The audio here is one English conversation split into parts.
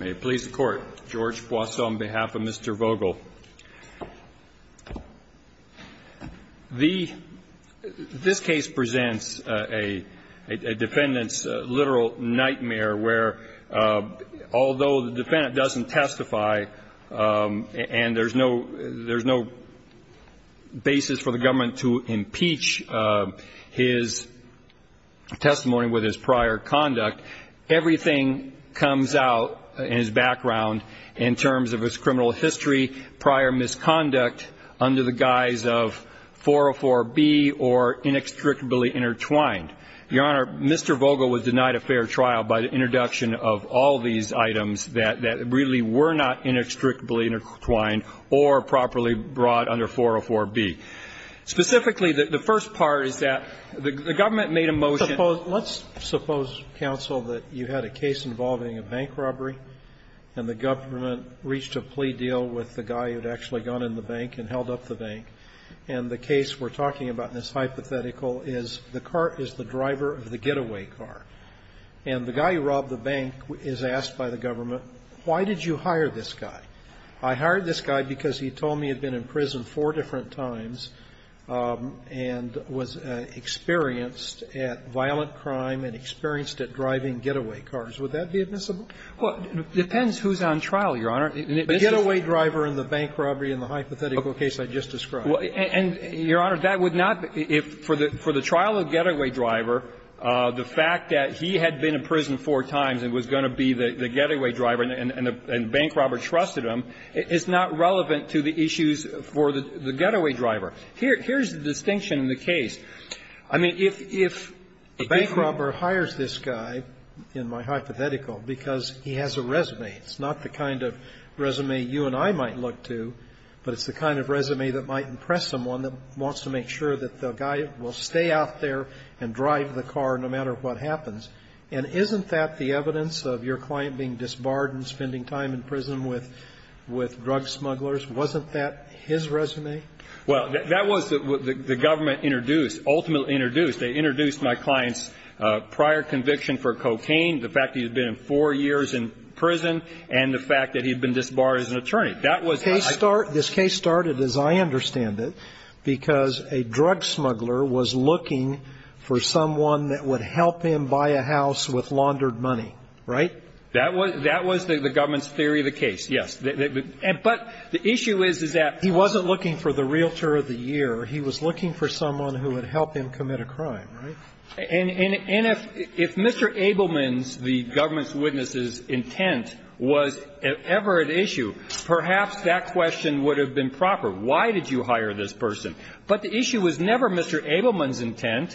May it please the court. George Poisson on behalf of Mr. Vogel. This case presents a defendant's literal nightmare where although the defendant doesn't testify and there's no basis for the government to impeach his testimony with his prior conduct, everything comes out in his background in terms of his criminal history, prior misconduct under the guise of 404B or inextricably intertwined. Your Honor, Mr. Vogel was denied a fair trial by the introduction of all these items that really were not inextricably intertwined or properly brought under 404B. Specifically, the first part is that the government made a motion Let's suppose, counsel, that you had a case involving a bank robbery and the government reached a plea deal with the guy who had actually gone in the bank and held up the bank, and the case we're talking about in this hypothetical is the car is the driver of the getaway car. And the guy who robbed the bank is asked by the government, why did you hire this guy? I hired this guy because he told me he had been in prison four different times and was experienced at violent crime and experienced at driving getaway cars. Would that be admissible? Well, it depends who's on trial, Your Honor. The getaway driver and the bank robbery in the hypothetical case I just described. And, Your Honor, that would not be – for the trial of the getaway driver, the fact that he had been in prison four times and was going to be the getaway driver and the bank robber trusted him is not relevant to the issues for the getaway driver. Here's the distinction in the case. I mean, if a bank robber hires this guy, in my hypothetical, because he has a resume. It's not the kind of resume you and I might look to, but it's the kind of resume that might impress someone that wants to make sure that the guy will stay out there and drive the car no matter what happens. And isn't that the evidence of your client being disbarred and spending time in prison with drug smugglers? Wasn't that his resume? Well, that was what the government introduced, ultimately introduced. They introduced my client's prior conviction for cocaine, the fact that he had been in four years in prison, and the fact that he had been disbarred as an attorney. That was the case. This case started, as I understand it, because a drug smuggler was looking for someone that would help him buy a house with laundered money, right? That was the government's theory of the case, yes. But the issue is, is that he wasn't looking for the realtor of the year. He was looking for someone who would help him commit a crime, right? And if Mr. Abelman's, the government's witness's, intent was ever at issue, perhaps that question would have been proper. Why did you hire this person? But the issue was never Mr. Abelman's intent,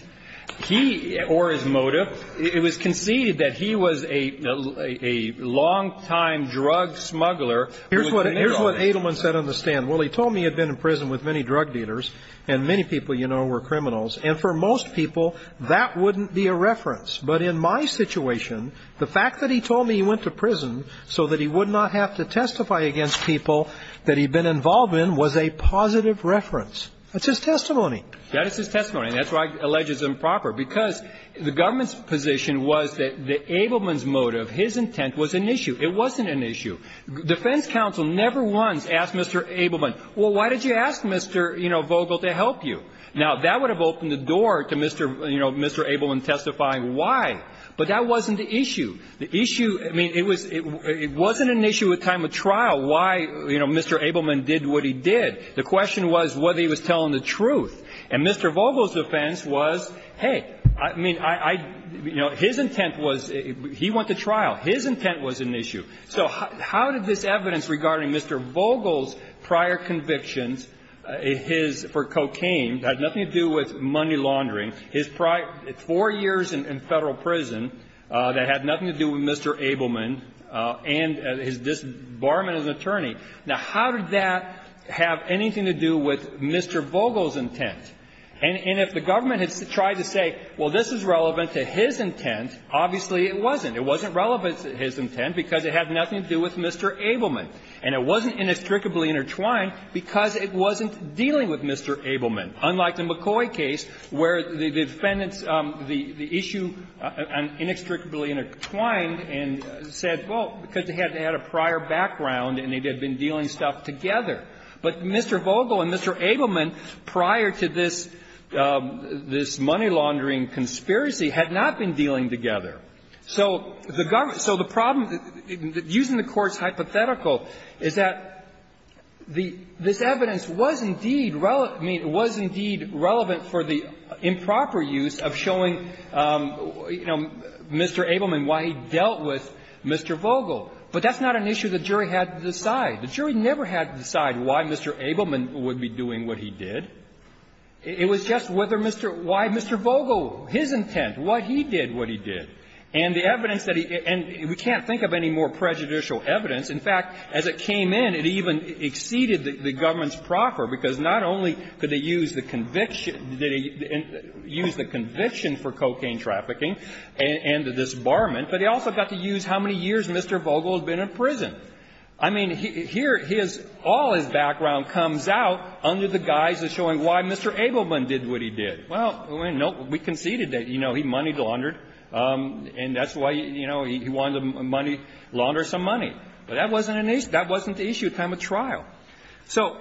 he or his motive. It was conceded that he was a long-time drug smuggler. Here's what Abelman said on the stand. Well, he told me he had been in prison with many drug dealers, and many people you know were criminals, and for most people that wouldn't be a reference. But in my situation, the fact that he told me he went to prison so that he would not have to testify against people that he'd been involved in was a positive reference. That's his testimony. That is his testimony, and that's why I allege it's improper. Because the government's position was that Abelman's motive, his intent, was an issue. It wasn't an issue. Defense counsel never once asked Mr. Abelman, well, why did you ask Mr. Vogel to help you? Now, that would have opened the door to Mr. Abelman testifying why. But that wasn't the issue. The issue, I mean, it wasn't an issue at time of trial why Mr. Abelman did what he did. The question was whether he was telling the truth. And Mr. Vogel's defense was, hey, I mean, I, you know, his intent was, he went to trial. His intent was an issue. So how did this evidence regarding Mr. Vogel's prior convictions, his for cocaine, had nothing to do with money laundering, his four years in Federal prison that had nothing to do with Mr. Abelman, and his disbarment as an attorney. Now, how did that have anything to do with Mr. Vogel's intent? And if the government had tried to say, well, this is relevant to his intent, obviously it wasn't. It wasn't relevant to his intent because it had nothing to do with Mr. Abelman. And it wasn't inextricably intertwined because it wasn't dealing with Mr. Abelman, unlike the McCoy case where the defendants, the issue inextricably intertwined and said, well, because they had a prior background and they had been dealing stuff together. But Mr. Vogel and Mr. Abelman, prior to this money laundering conspiracy, had not been dealing together. So the government so the problem, using the court's hypothetical, is that the, this evidence was indeed relevant for the improper use of showing, you know, Mr. Abelman and why he dealt with Mr. Vogel. But that's not an issue the jury had to decide. The jury never had to decide why Mr. Abelman would be doing what he did. It was just whether Mr. Why Mr. Vogel, his intent, what he did what he did. And the evidence that he, and we can't think of any more prejudicial evidence. In fact, as it came in, it even exceeded the government's proffer, because not only could they use the conviction, use the conviction for cocaine trafficking and this barment, but they also got to use how many years Mr. Vogel had been in prison. I mean, here his, all his background comes out under the guise of showing why Mr. Abelman did what he did. Well, no, we conceded that, you know, he money laundered, and that's why, you know, he wanted to money, launder some money. But that wasn't an issue, that wasn't the issue at time of trial. So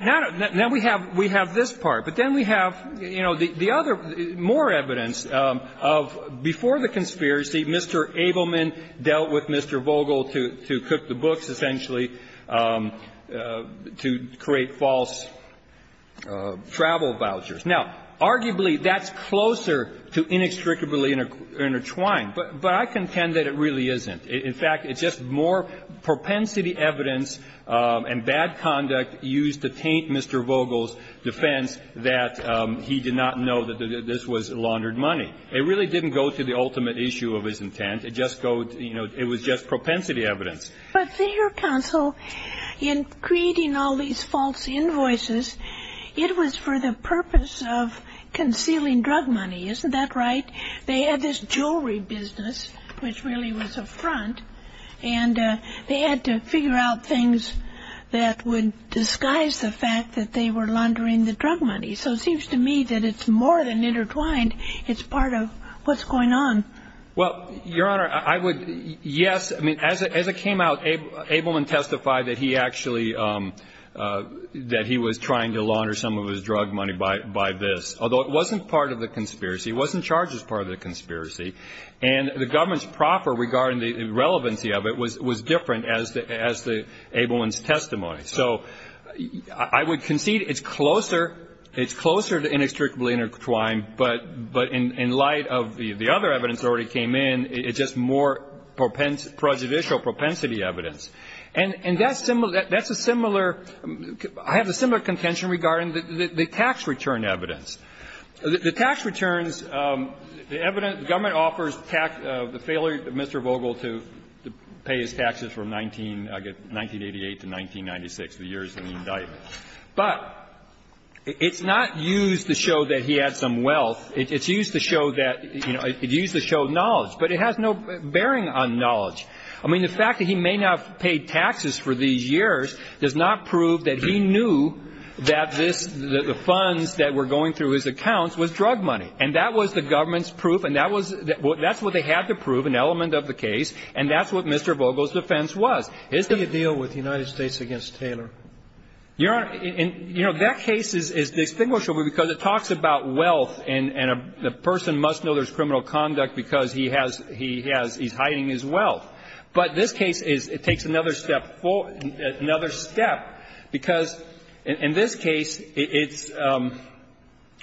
now we have this part, but then we have, you know, the other, more evidence of before the conspiracy, Mr. Abelman dealt with Mr. Vogel to cook the books, essentially, to create false travel vouchers. Now, arguably, that's closer to inextricably intertwined, but I contend that it really isn't. In fact, it's just more propensity evidence and bad conduct used to taint Mr. Vogel's defense that he did not know that this was laundered money. It really didn't go to the ultimate issue of his intent. It just go, you know, it was just propensity evidence. But, your counsel, in creating all these false invoices, it was for the purpose of concealing drug money, isn't that right? They had this jewelry business, which really was a front, and they had to figure out things that would disguise the fact that they were laundering the drug money. So it seems to me that it's more than intertwined, it's part of what's going on. Well, your honor, I would, yes, I mean, as it came out, Abelman testified that he actually, that he was trying to launder some of his drug money by this. Although it wasn't part of the conspiracy, it wasn't charged as part of the conspiracy. And the government's proffer regarding the relevancy of it was different as the Abelman's testimony, so I would concede it's closer to inextricably intertwined. But in light of the other evidence that already came in, it's just more prejudicial propensity evidence. And that's a similar, I have a similar contention regarding the tax return evidence. The tax returns, the government offers the failure of Mr. Vogel to pay his taxes from 1988 to 1996, the years when he died. But it's not used to show that he had some wealth. It's used to show that, it's used to show knowledge, but it has no bearing on knowledge. I mean, the fact that he may not have paid taxes for these years does not prove that he knew that the funds that were going through his accounts was drug money. And that was the government's proof, and that's what they had to prove, an element of the case, and that's what Mr. Vogel's defense was. His defense- Do you deal with the United States against Taylor? Your Honor, that case is distinguishable because it talks about wealth, and a person must know there's criminal conduct because he has, he's hiding his wealth. But this case is, it takes another step forward, another step, because in this case, it's,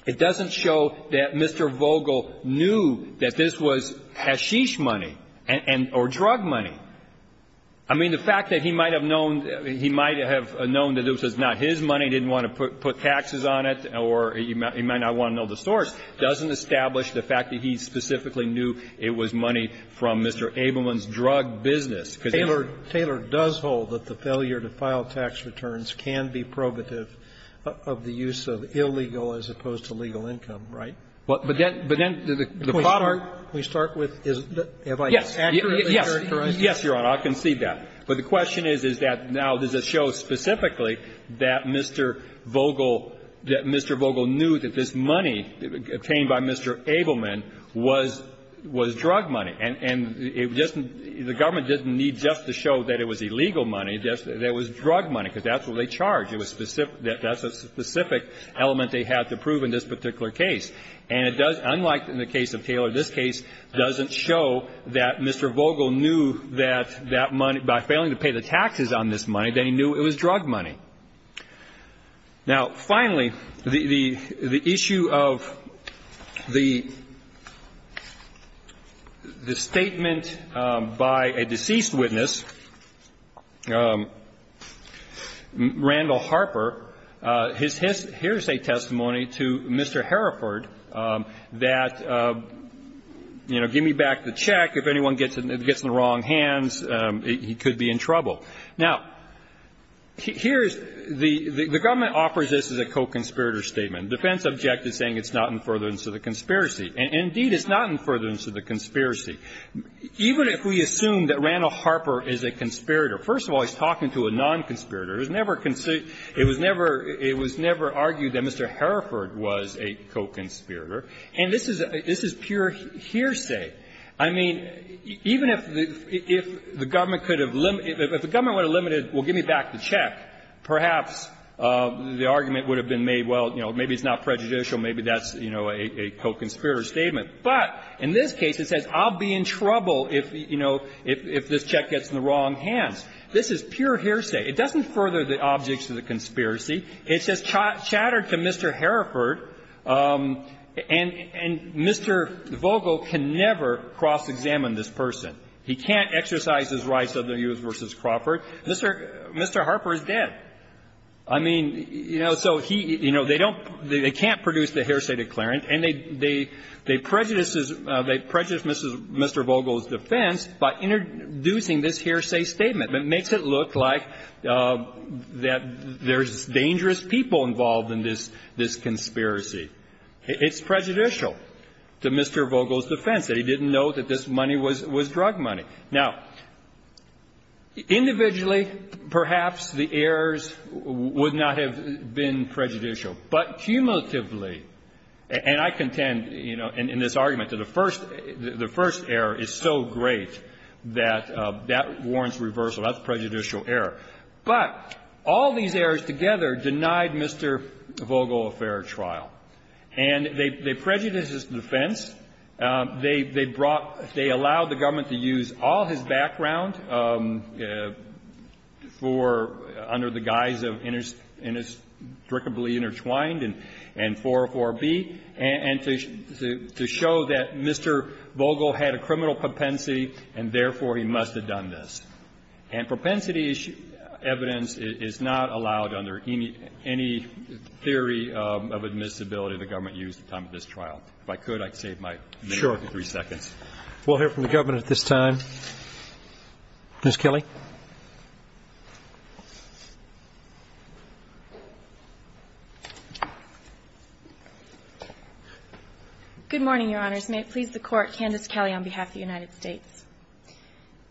it doesn't show that Mr. Vogel knew that this was hashish money or drug money. I mean, the fact that he might have known, he might have known that this was not his money, didn't want to put taxes on it, or he might not want to know the source, doesn't establish the fact that he specifically knew it was money from Mr. Abelman's drug business. Because if- Taylor, Taylor does hold that the failure to file tax returns can be probative of the use of illegal as opposed to legal income, right? But then, but then- Can we start, can we start with, have I accurately characterized this? Yes, yes, yes, Your Honor, I can see that. But the question is, is that now does it show specifically that Mr. Vogel, that Mr. Vogel knew that the money obtained by Mr. Abelman was, was drug money? And, and it doesn't, the government doesn't need just to show that it was illegal money, that it was drug money, because that's what they charge. It was specific, that's a specific element they have to prove in this particular case. And it does, unlike in the case of Taylor, this case doesn't show that Mr. Vogel knew that that money, by failing to pay the taxes on this money, that he knew it was drug money. Now, finally, the, the issue of the, the statement by a deceased witness, Randall Harper, his, his, here's a testimony to Mr. Hereford that, you know, give me back the check. If anyone gets, gets in the wrong hands, he could be in trouble. Now, here's the, the government offers this as a co-conspirator statement. Defense objected, saying it's not in furtherance of the conspiracy. And, indeed, it's not in furtherance of the conspiracy. Even if we assume that Randall Harper is a conspirator, first of all, he's talking to a non-conspirator. It was never considered, it was never, it was never argued that Mr. Hereford was a co-conspirator. And this is, this is pure hearsay. I mean, even if the, if the government could have, if the government would have limited, well, give me back the check, perhaps the argument would have been made, well, you know, maybe it's not prejudicial, maybe that's, you know, a, a co-conspirator statement. But in this case, it says, I'll be in trouble if, you know, if, if this check gets in the wrong hands. This is pure hearsay. It doesn't further the objects of the conspiracy. It's just chattered to Mr. Hereford, and, and Mr. Vogel can never cross-examine this person. He can't exercise his rights under Hughes v. Crawford. Mr. Harper is dead. I mean, you know, so he, you know, they don't, they can't produce the hearsay declarant, and they, they prejudice, they prejudice Mr. Vogel's defense by introducing this hearsay statement. It makes it look like that there's dangerous people involved in this, this conspiracy. It's prejudicial to Mr. Vogel's defense, that he didn't know that this money was, was drug money. Now, individually, perhaps the errors would not have been prejudicial, but cumulatively and I contend, you know, in this argument to the first, the first error is so great that that warrants reversal. That's prejudicial error. But all these errors together denied Mr. Vogel a fair trial. And they prejudiced his defense. They brought, they allowed the government to use all his background for, under the guise of inextricably intertwined and 404B, and to show that Mr. Vogel had a criminal propensity, and therefore he must have done this. And propensity evidence is not allowed under any theory of admissibility the government used at the time of this trial. If I could, I'd save my minute and three seconds. We'll hear from the government at this time. Ms. Kelly? Good morning, Your Honors. May it please the Court, Candace Kelly on behalf of the United States.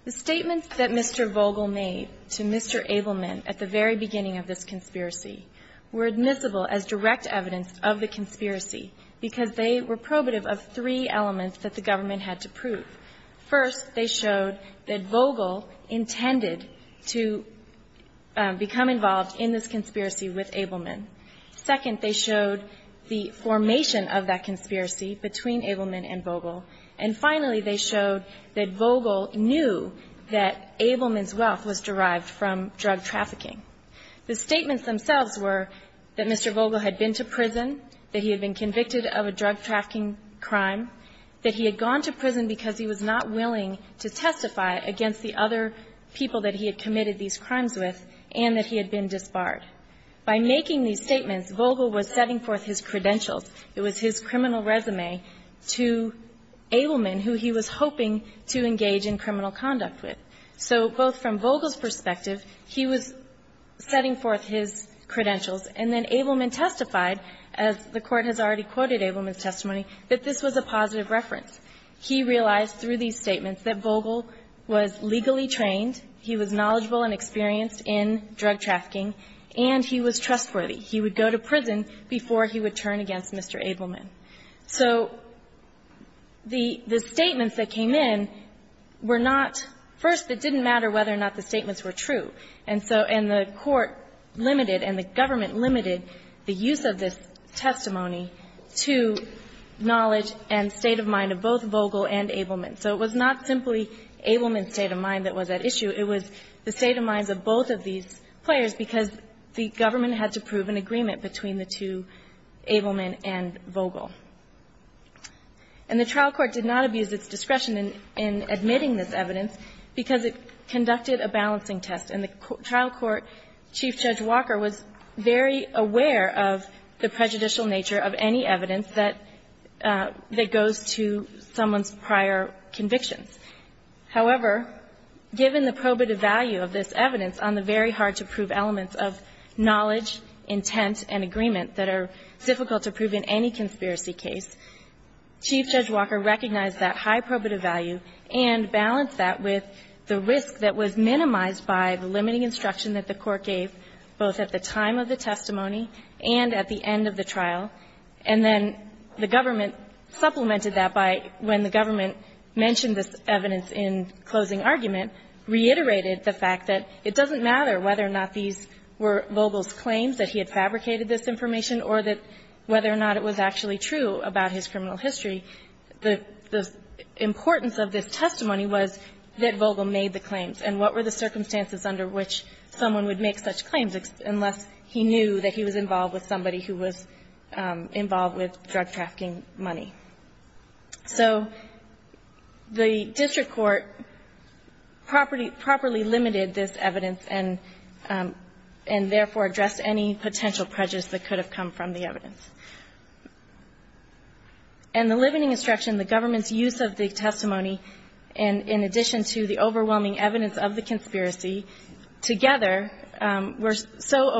The statements that Mr. Vogel made to Mr. Abelman at the very beginning of this conspiracy were admissible as direct evidence of the conspiracy, because they were probative of three elements that the government had to prove. First, they showed that Vogel intended to become involved in this conspiracy with Abelman. Second, they showed the formation of that conspiracy between Abelman and Vogel. And finally, they showed that Vogel knew that Abelman's wealth was derived from drug trafficking. The statements themselves were that Mr. Vogel had been to prison, that he had been convicted of a drug trafficking crime, that he had gone to prison because he was not willing to testify against the other people that he had committed these crimes with, and that he had been disbarred. By making these statements, Vogel was setting forth his credentials. It was his criminal resume to Abelman, who he was hoping to engage in criminal conduct with. So both from Vogel's perspective, he was setting forth his credentials. And then Abelman testified, as the Court has already quoted Abelman's testimony, that this was a positive reference. He realized through these statements that Vogel was legally trained, he was knowledgeable and experienced in drug trafficking, and he was trustworthy. He would go to prison before he would turn against Mr. Abelman. So the statements that came in were not – first, it didn't matter whether or not the statements were true. And so – and the Court limited and the government limited the use of this testimony to knowledge and state of mind of both Vogel and Abelman. So it was not simply Abelman's state of mind that was at issue. It was the state of minds of both of these players, because the government had to prove an agreement between the two, Abelman and Vogel. And the trial court did not abuse its discretion in admitting this evidence because it conducted a balancing test, and the trial court, Chief Judge Walker, was very aware of the prejudicial nature of any evidence that goes to someone's prior convictions. However, given the probative value of this evidence on the very hard-to-prove elements of knowledge, intent, and agreement that are difficult to prove in any conspiracy case, Chief Judge Walker recognized that high probative value and balanced that with the risk that was minimized by the limiting instruction that the Court gave both at the time of the testimony and at the end of the trial. And then the government supplemented that by, when the government mentioned this evidence in closing argument, reiterated the fact that it doesn't matter whether or not these were Vogel's claims, that he had fabricated this information, or that whether or not it was actually true about his criminal history. The importance of this testimony was that Vogel made the claims, and what were the circumstances under which someone would make such claims unless he knew that he was involved with drug-trafficking money. So the district court properly limited this evidence, and therefore addressed any potential prejudice that could have come from the evidence. And the limiting instruction, the government's use of the testimony, and in addition to the overwhelming evidence of the conspiracy, together were so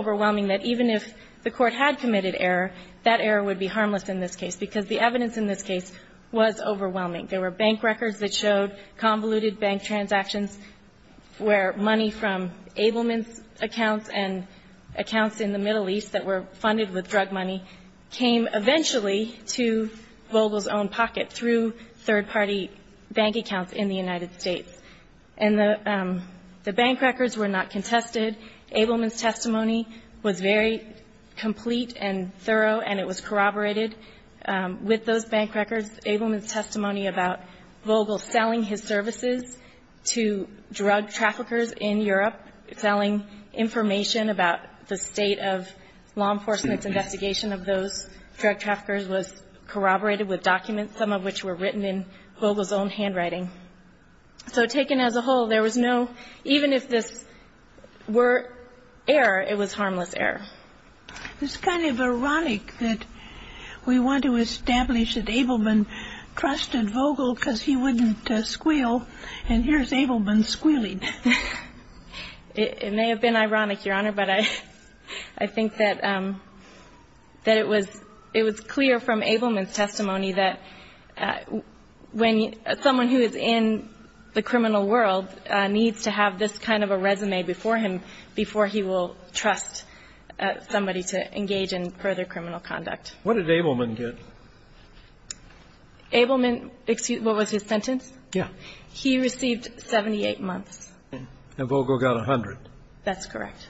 that error would be harmless in this case, because the evidence in this case was overwhelming. There were bank records that showed convoluted bank transactions where money from Abelman's accounts and accounts in the Middle East that were funded with drug money came eventually to Vogel's own pocket through third-party bank accounts in the United States. And the bank records were not contested. Abelman's testimony was very complete and thorough, and it was corroborated. With those bank records, Abelman's testimony about Vogel selling his services to drug traffickers in Europe, selling information about the state of law enforcement's investigation of those drug traffickers was corroborated with documents, some of which were written in Vogel's own handwriting. So taken as a whole, there was no, even if this were error, it was harmless error. It's kind of ironic that we want to establish that Abelman trusted Vogel because he wouldn't squeal, and here's Abelman squealing. It may have been ironic, Your Honor, but I think that it was clear from Abelman's testimony that when someone who is involved in the criminal world needs to have this kind of a resume before him, before he will trust somebody to engage in further criminal conduct. What did Abelman get? Abelman, excuse me, what was his sentence? Yes. He received 78 months. And Vogel got 100. That's correct.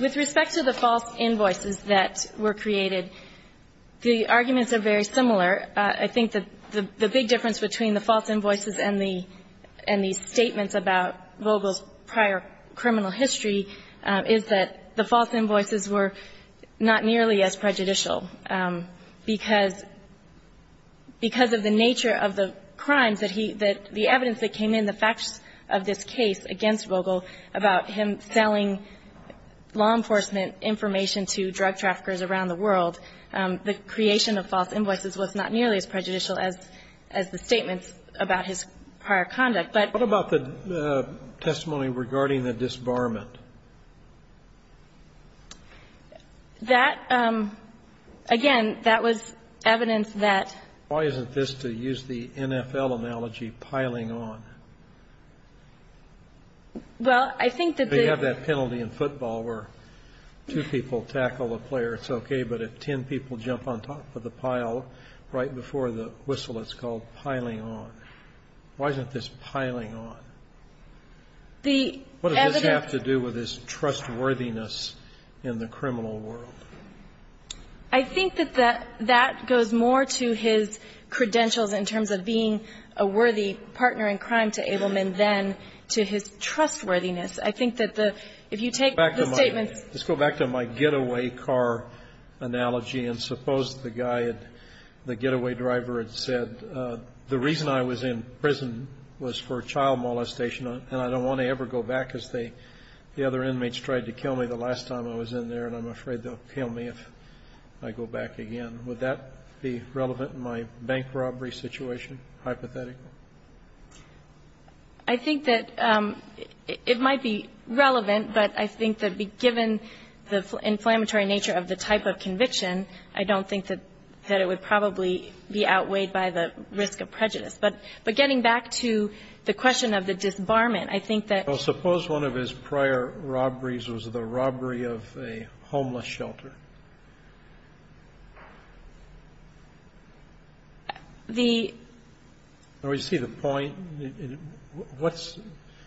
With respect to the false invoices that were created, the arguments are very similar. I think that the big difference between the false invoices and the statements about Vogel's prior criminal history is that the false invoices were not nearly as prejudicial because of the nature of the crimes that he – that the evidence that came in, the facts of this case against Vogel about him selling law enforcement information to drug traffickers around the world, the creation of false invoices was not nearly as prejudicial as the statements about his prior conduct. But – What about the testimony regarding the disbarment? That – again, that was evidence that – Why isn't this, to use the NFL analogy, piling on? Well, I think that the – The NFL player, it's okay, but if 10 people jump on top of the pile right before the whistle, it's called piling on. Why isn't this piling on? The evidence – What does this have to do with his trustworthiness in the criminal world? I think that that goes more to his credentials in terms of being a worthy partner in crime to Abelman than to his trustworthiness. I think that the – if you take the statements – Let's go back to my getaway car analogy, and suppose the guy had – the getaway driver had said, the reason I was in prison was for child molestation, and I don't want to ever go back because they – the other inmates tried to kill me the last time I was in there, and I'm afraid they'll kill me if I go back again. Would that be relevant in my bank robbery situation, hypothetically? I think that it might be relevant, but I think that given the inflammatory nature of the type of conviction, I don't think that it would probably be outweighed by the risk of prejudice. But getting back to the question of the disbarment, I think that – Well, suppose one of his prior robberies was the robbery of a homeless shelter. The – Oh, you see the point? What's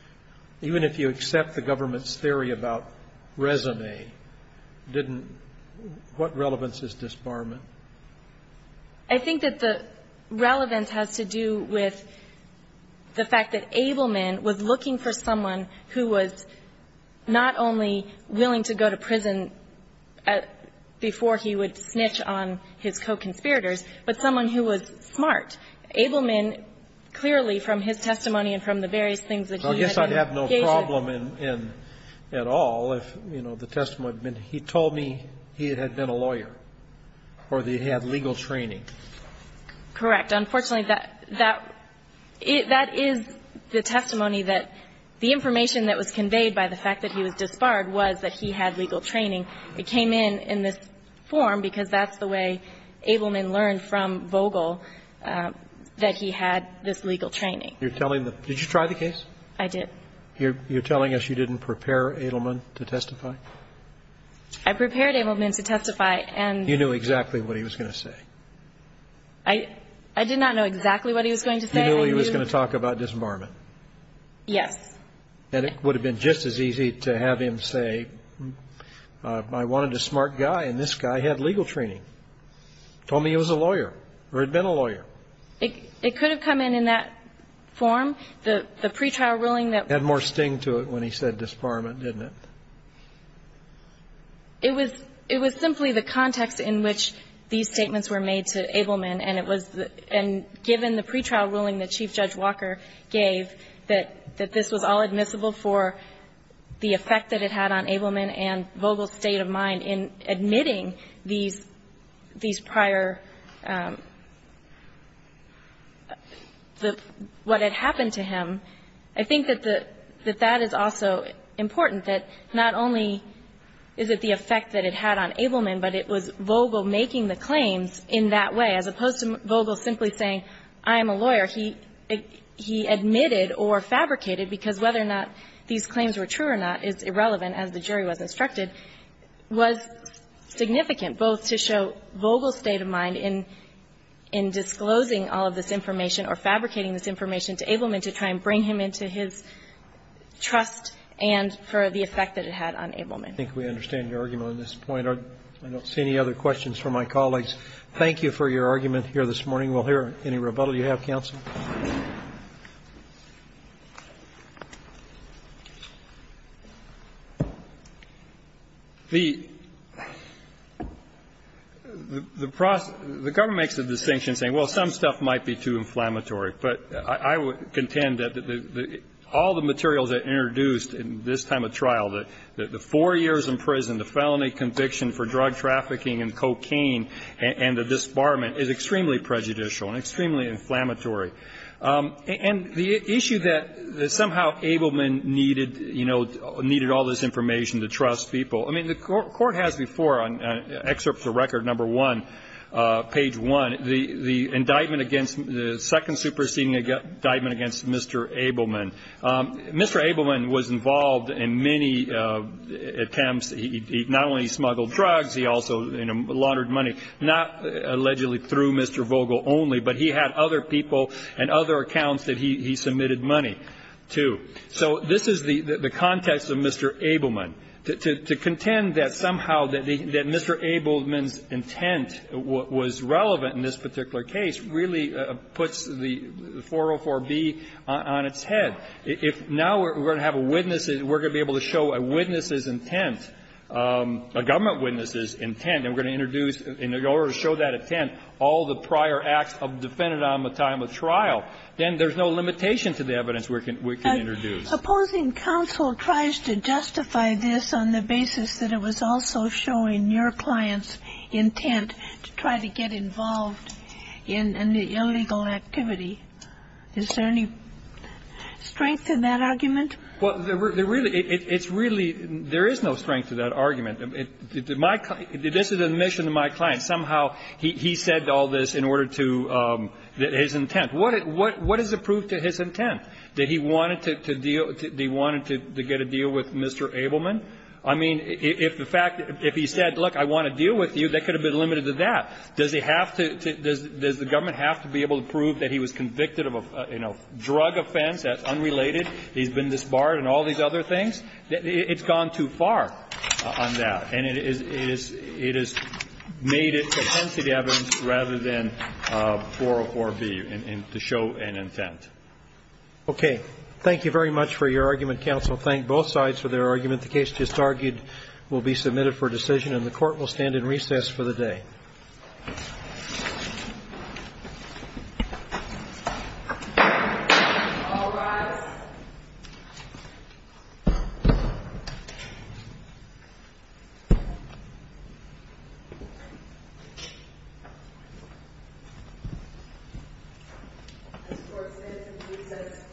– even if you accept the government's theory about résumé, didn't – what relevance is disbarment? I think that the relevance has to do with the fact that Abelman was looking for someone who was not only willing to go to prison at the time of the robbery, but before he would snitch on his co-conspirators, but someone who was smart. Abelman clearly, from his testimony and from the various things that he had engaged in – Well, I guess I'd have no problem in – at all if, you know, the testimony had been, he told me he had been a lawyer or that he had legal training. Correct. Unfortunately, that – that is the testimony that the information that was conveyed by the fact that he was disbarred was that he had legal training. It came in in this form because that's the way Abelman learned from Vogel that he had this legal training. You're telling the – did you try the case? I did. You're telling us you didn't prepare Abelman to testify? I prepared Abelman to testify and – You knew exactly what he was going to say? I – I did not know exactly what he was going to say. You knew he was going to talk about disbarment? Yes. And it would have been just as easy to have him say, I wanted a smart guy and this guy had legal training. Told me he was a lawyer or had been a lawyer. It – it could have come in in that form. The – the pretrial ruling that – Had more sting to it when he said disbarment, didn't it? It was – it was simply the context in which these statements were made to Abelman and it was – and given the pretrial ruling that Chief Judge Walker gave that – that this was all admissible for the effect that it had on Abelman and Vogel's state of mind in admitting these – these prior – the – what had happened to him, I think that the – that that is also important, that not only is it the effect that it had on Abelman, but it was Vogel making the claims in that way, as opposed to Vogel simply saying, I am a lawyer. He – he admitted or fabricated, because whether or not these claims were true or not is irrelevant, as the jury was instructed, was significant both to show Vogel's state of mind in – in disclosing all of this information or fabricating this information to Abelman to try and bring him into his trust and for the effect that it had on Abelman. I think we understand your argument on this point. I don't see any other questions from my colleagues. Thank you for your argument here this morning. We'll hear any rebuttal you have, counsel. The – the process – the government makes the distinction saying, well, some stuff might be too inflammatory, but I would contend that the – the – all the materials that are introduced in this time of trial, the – the four years in prison, the felony conviction for drug trafficking and cocaine, and the disbarment is extremely prejudicial and extremely inflammatory. And the issue that – that somehow Abelman needed, you know, needed all this information to trust people. I mean, the court has before on excerpts of record number one, page one, the – the indictment against – the second superseding indictment against Mr. Abelman. Mr. Abelman was involved in many attempts. He – he not only smuggled drugs, he also, you know, laundered money. Not allegedly through Mr. Vogel only, but he had other people and other accounts that he – he submitted money to. So this is the – the context of Mr. Abelman. To – to contend that somehow that the – that Mr. Abelman's intent was relevant in this particular case really puts the 404B on its head. If now we're going to have a witness, we're going to be able to show a witness's intent, a government witness's intent, and we're going to introduce in order to show that intent all the prior acts of defendant on the time of trial, then there's no limitation to the evidence we can – we can introduce. Opposing counsel tries to justify this on the basis that it was also showing your client's intent to try to get involved in – in the illegal activity. Is there any strength in that argument? Well, there really – it's really – there is no strength to that argument. My – this is an admission to my client. Somehow he – he said all this in order to – his intent. What – what is the proof to his intent, that he wanted to deal – that he wanted to get a deal with Mr. Abelman? I mean, if the fact – if he said, look, I want to deal with you, that could have been limited to that. Does he have to – does the government have to be able to prove that he was convicted of a, you know, drug offense that's unrelated, he's been disbarred, and all these other things? It's gone too far on that. And it is – it is – it has made it to tentative evidence rather than 404B, in – to show an intent. Okay. Thank you very much for your argument, counsel. Thank both sides for their argument. The case just argued will be submitted for decision, and the Court will stand in recess for the day. Thank you. All rise. This Court stands in recess for the day. This Court stands in recess for the day. This Court stands in recess for the day.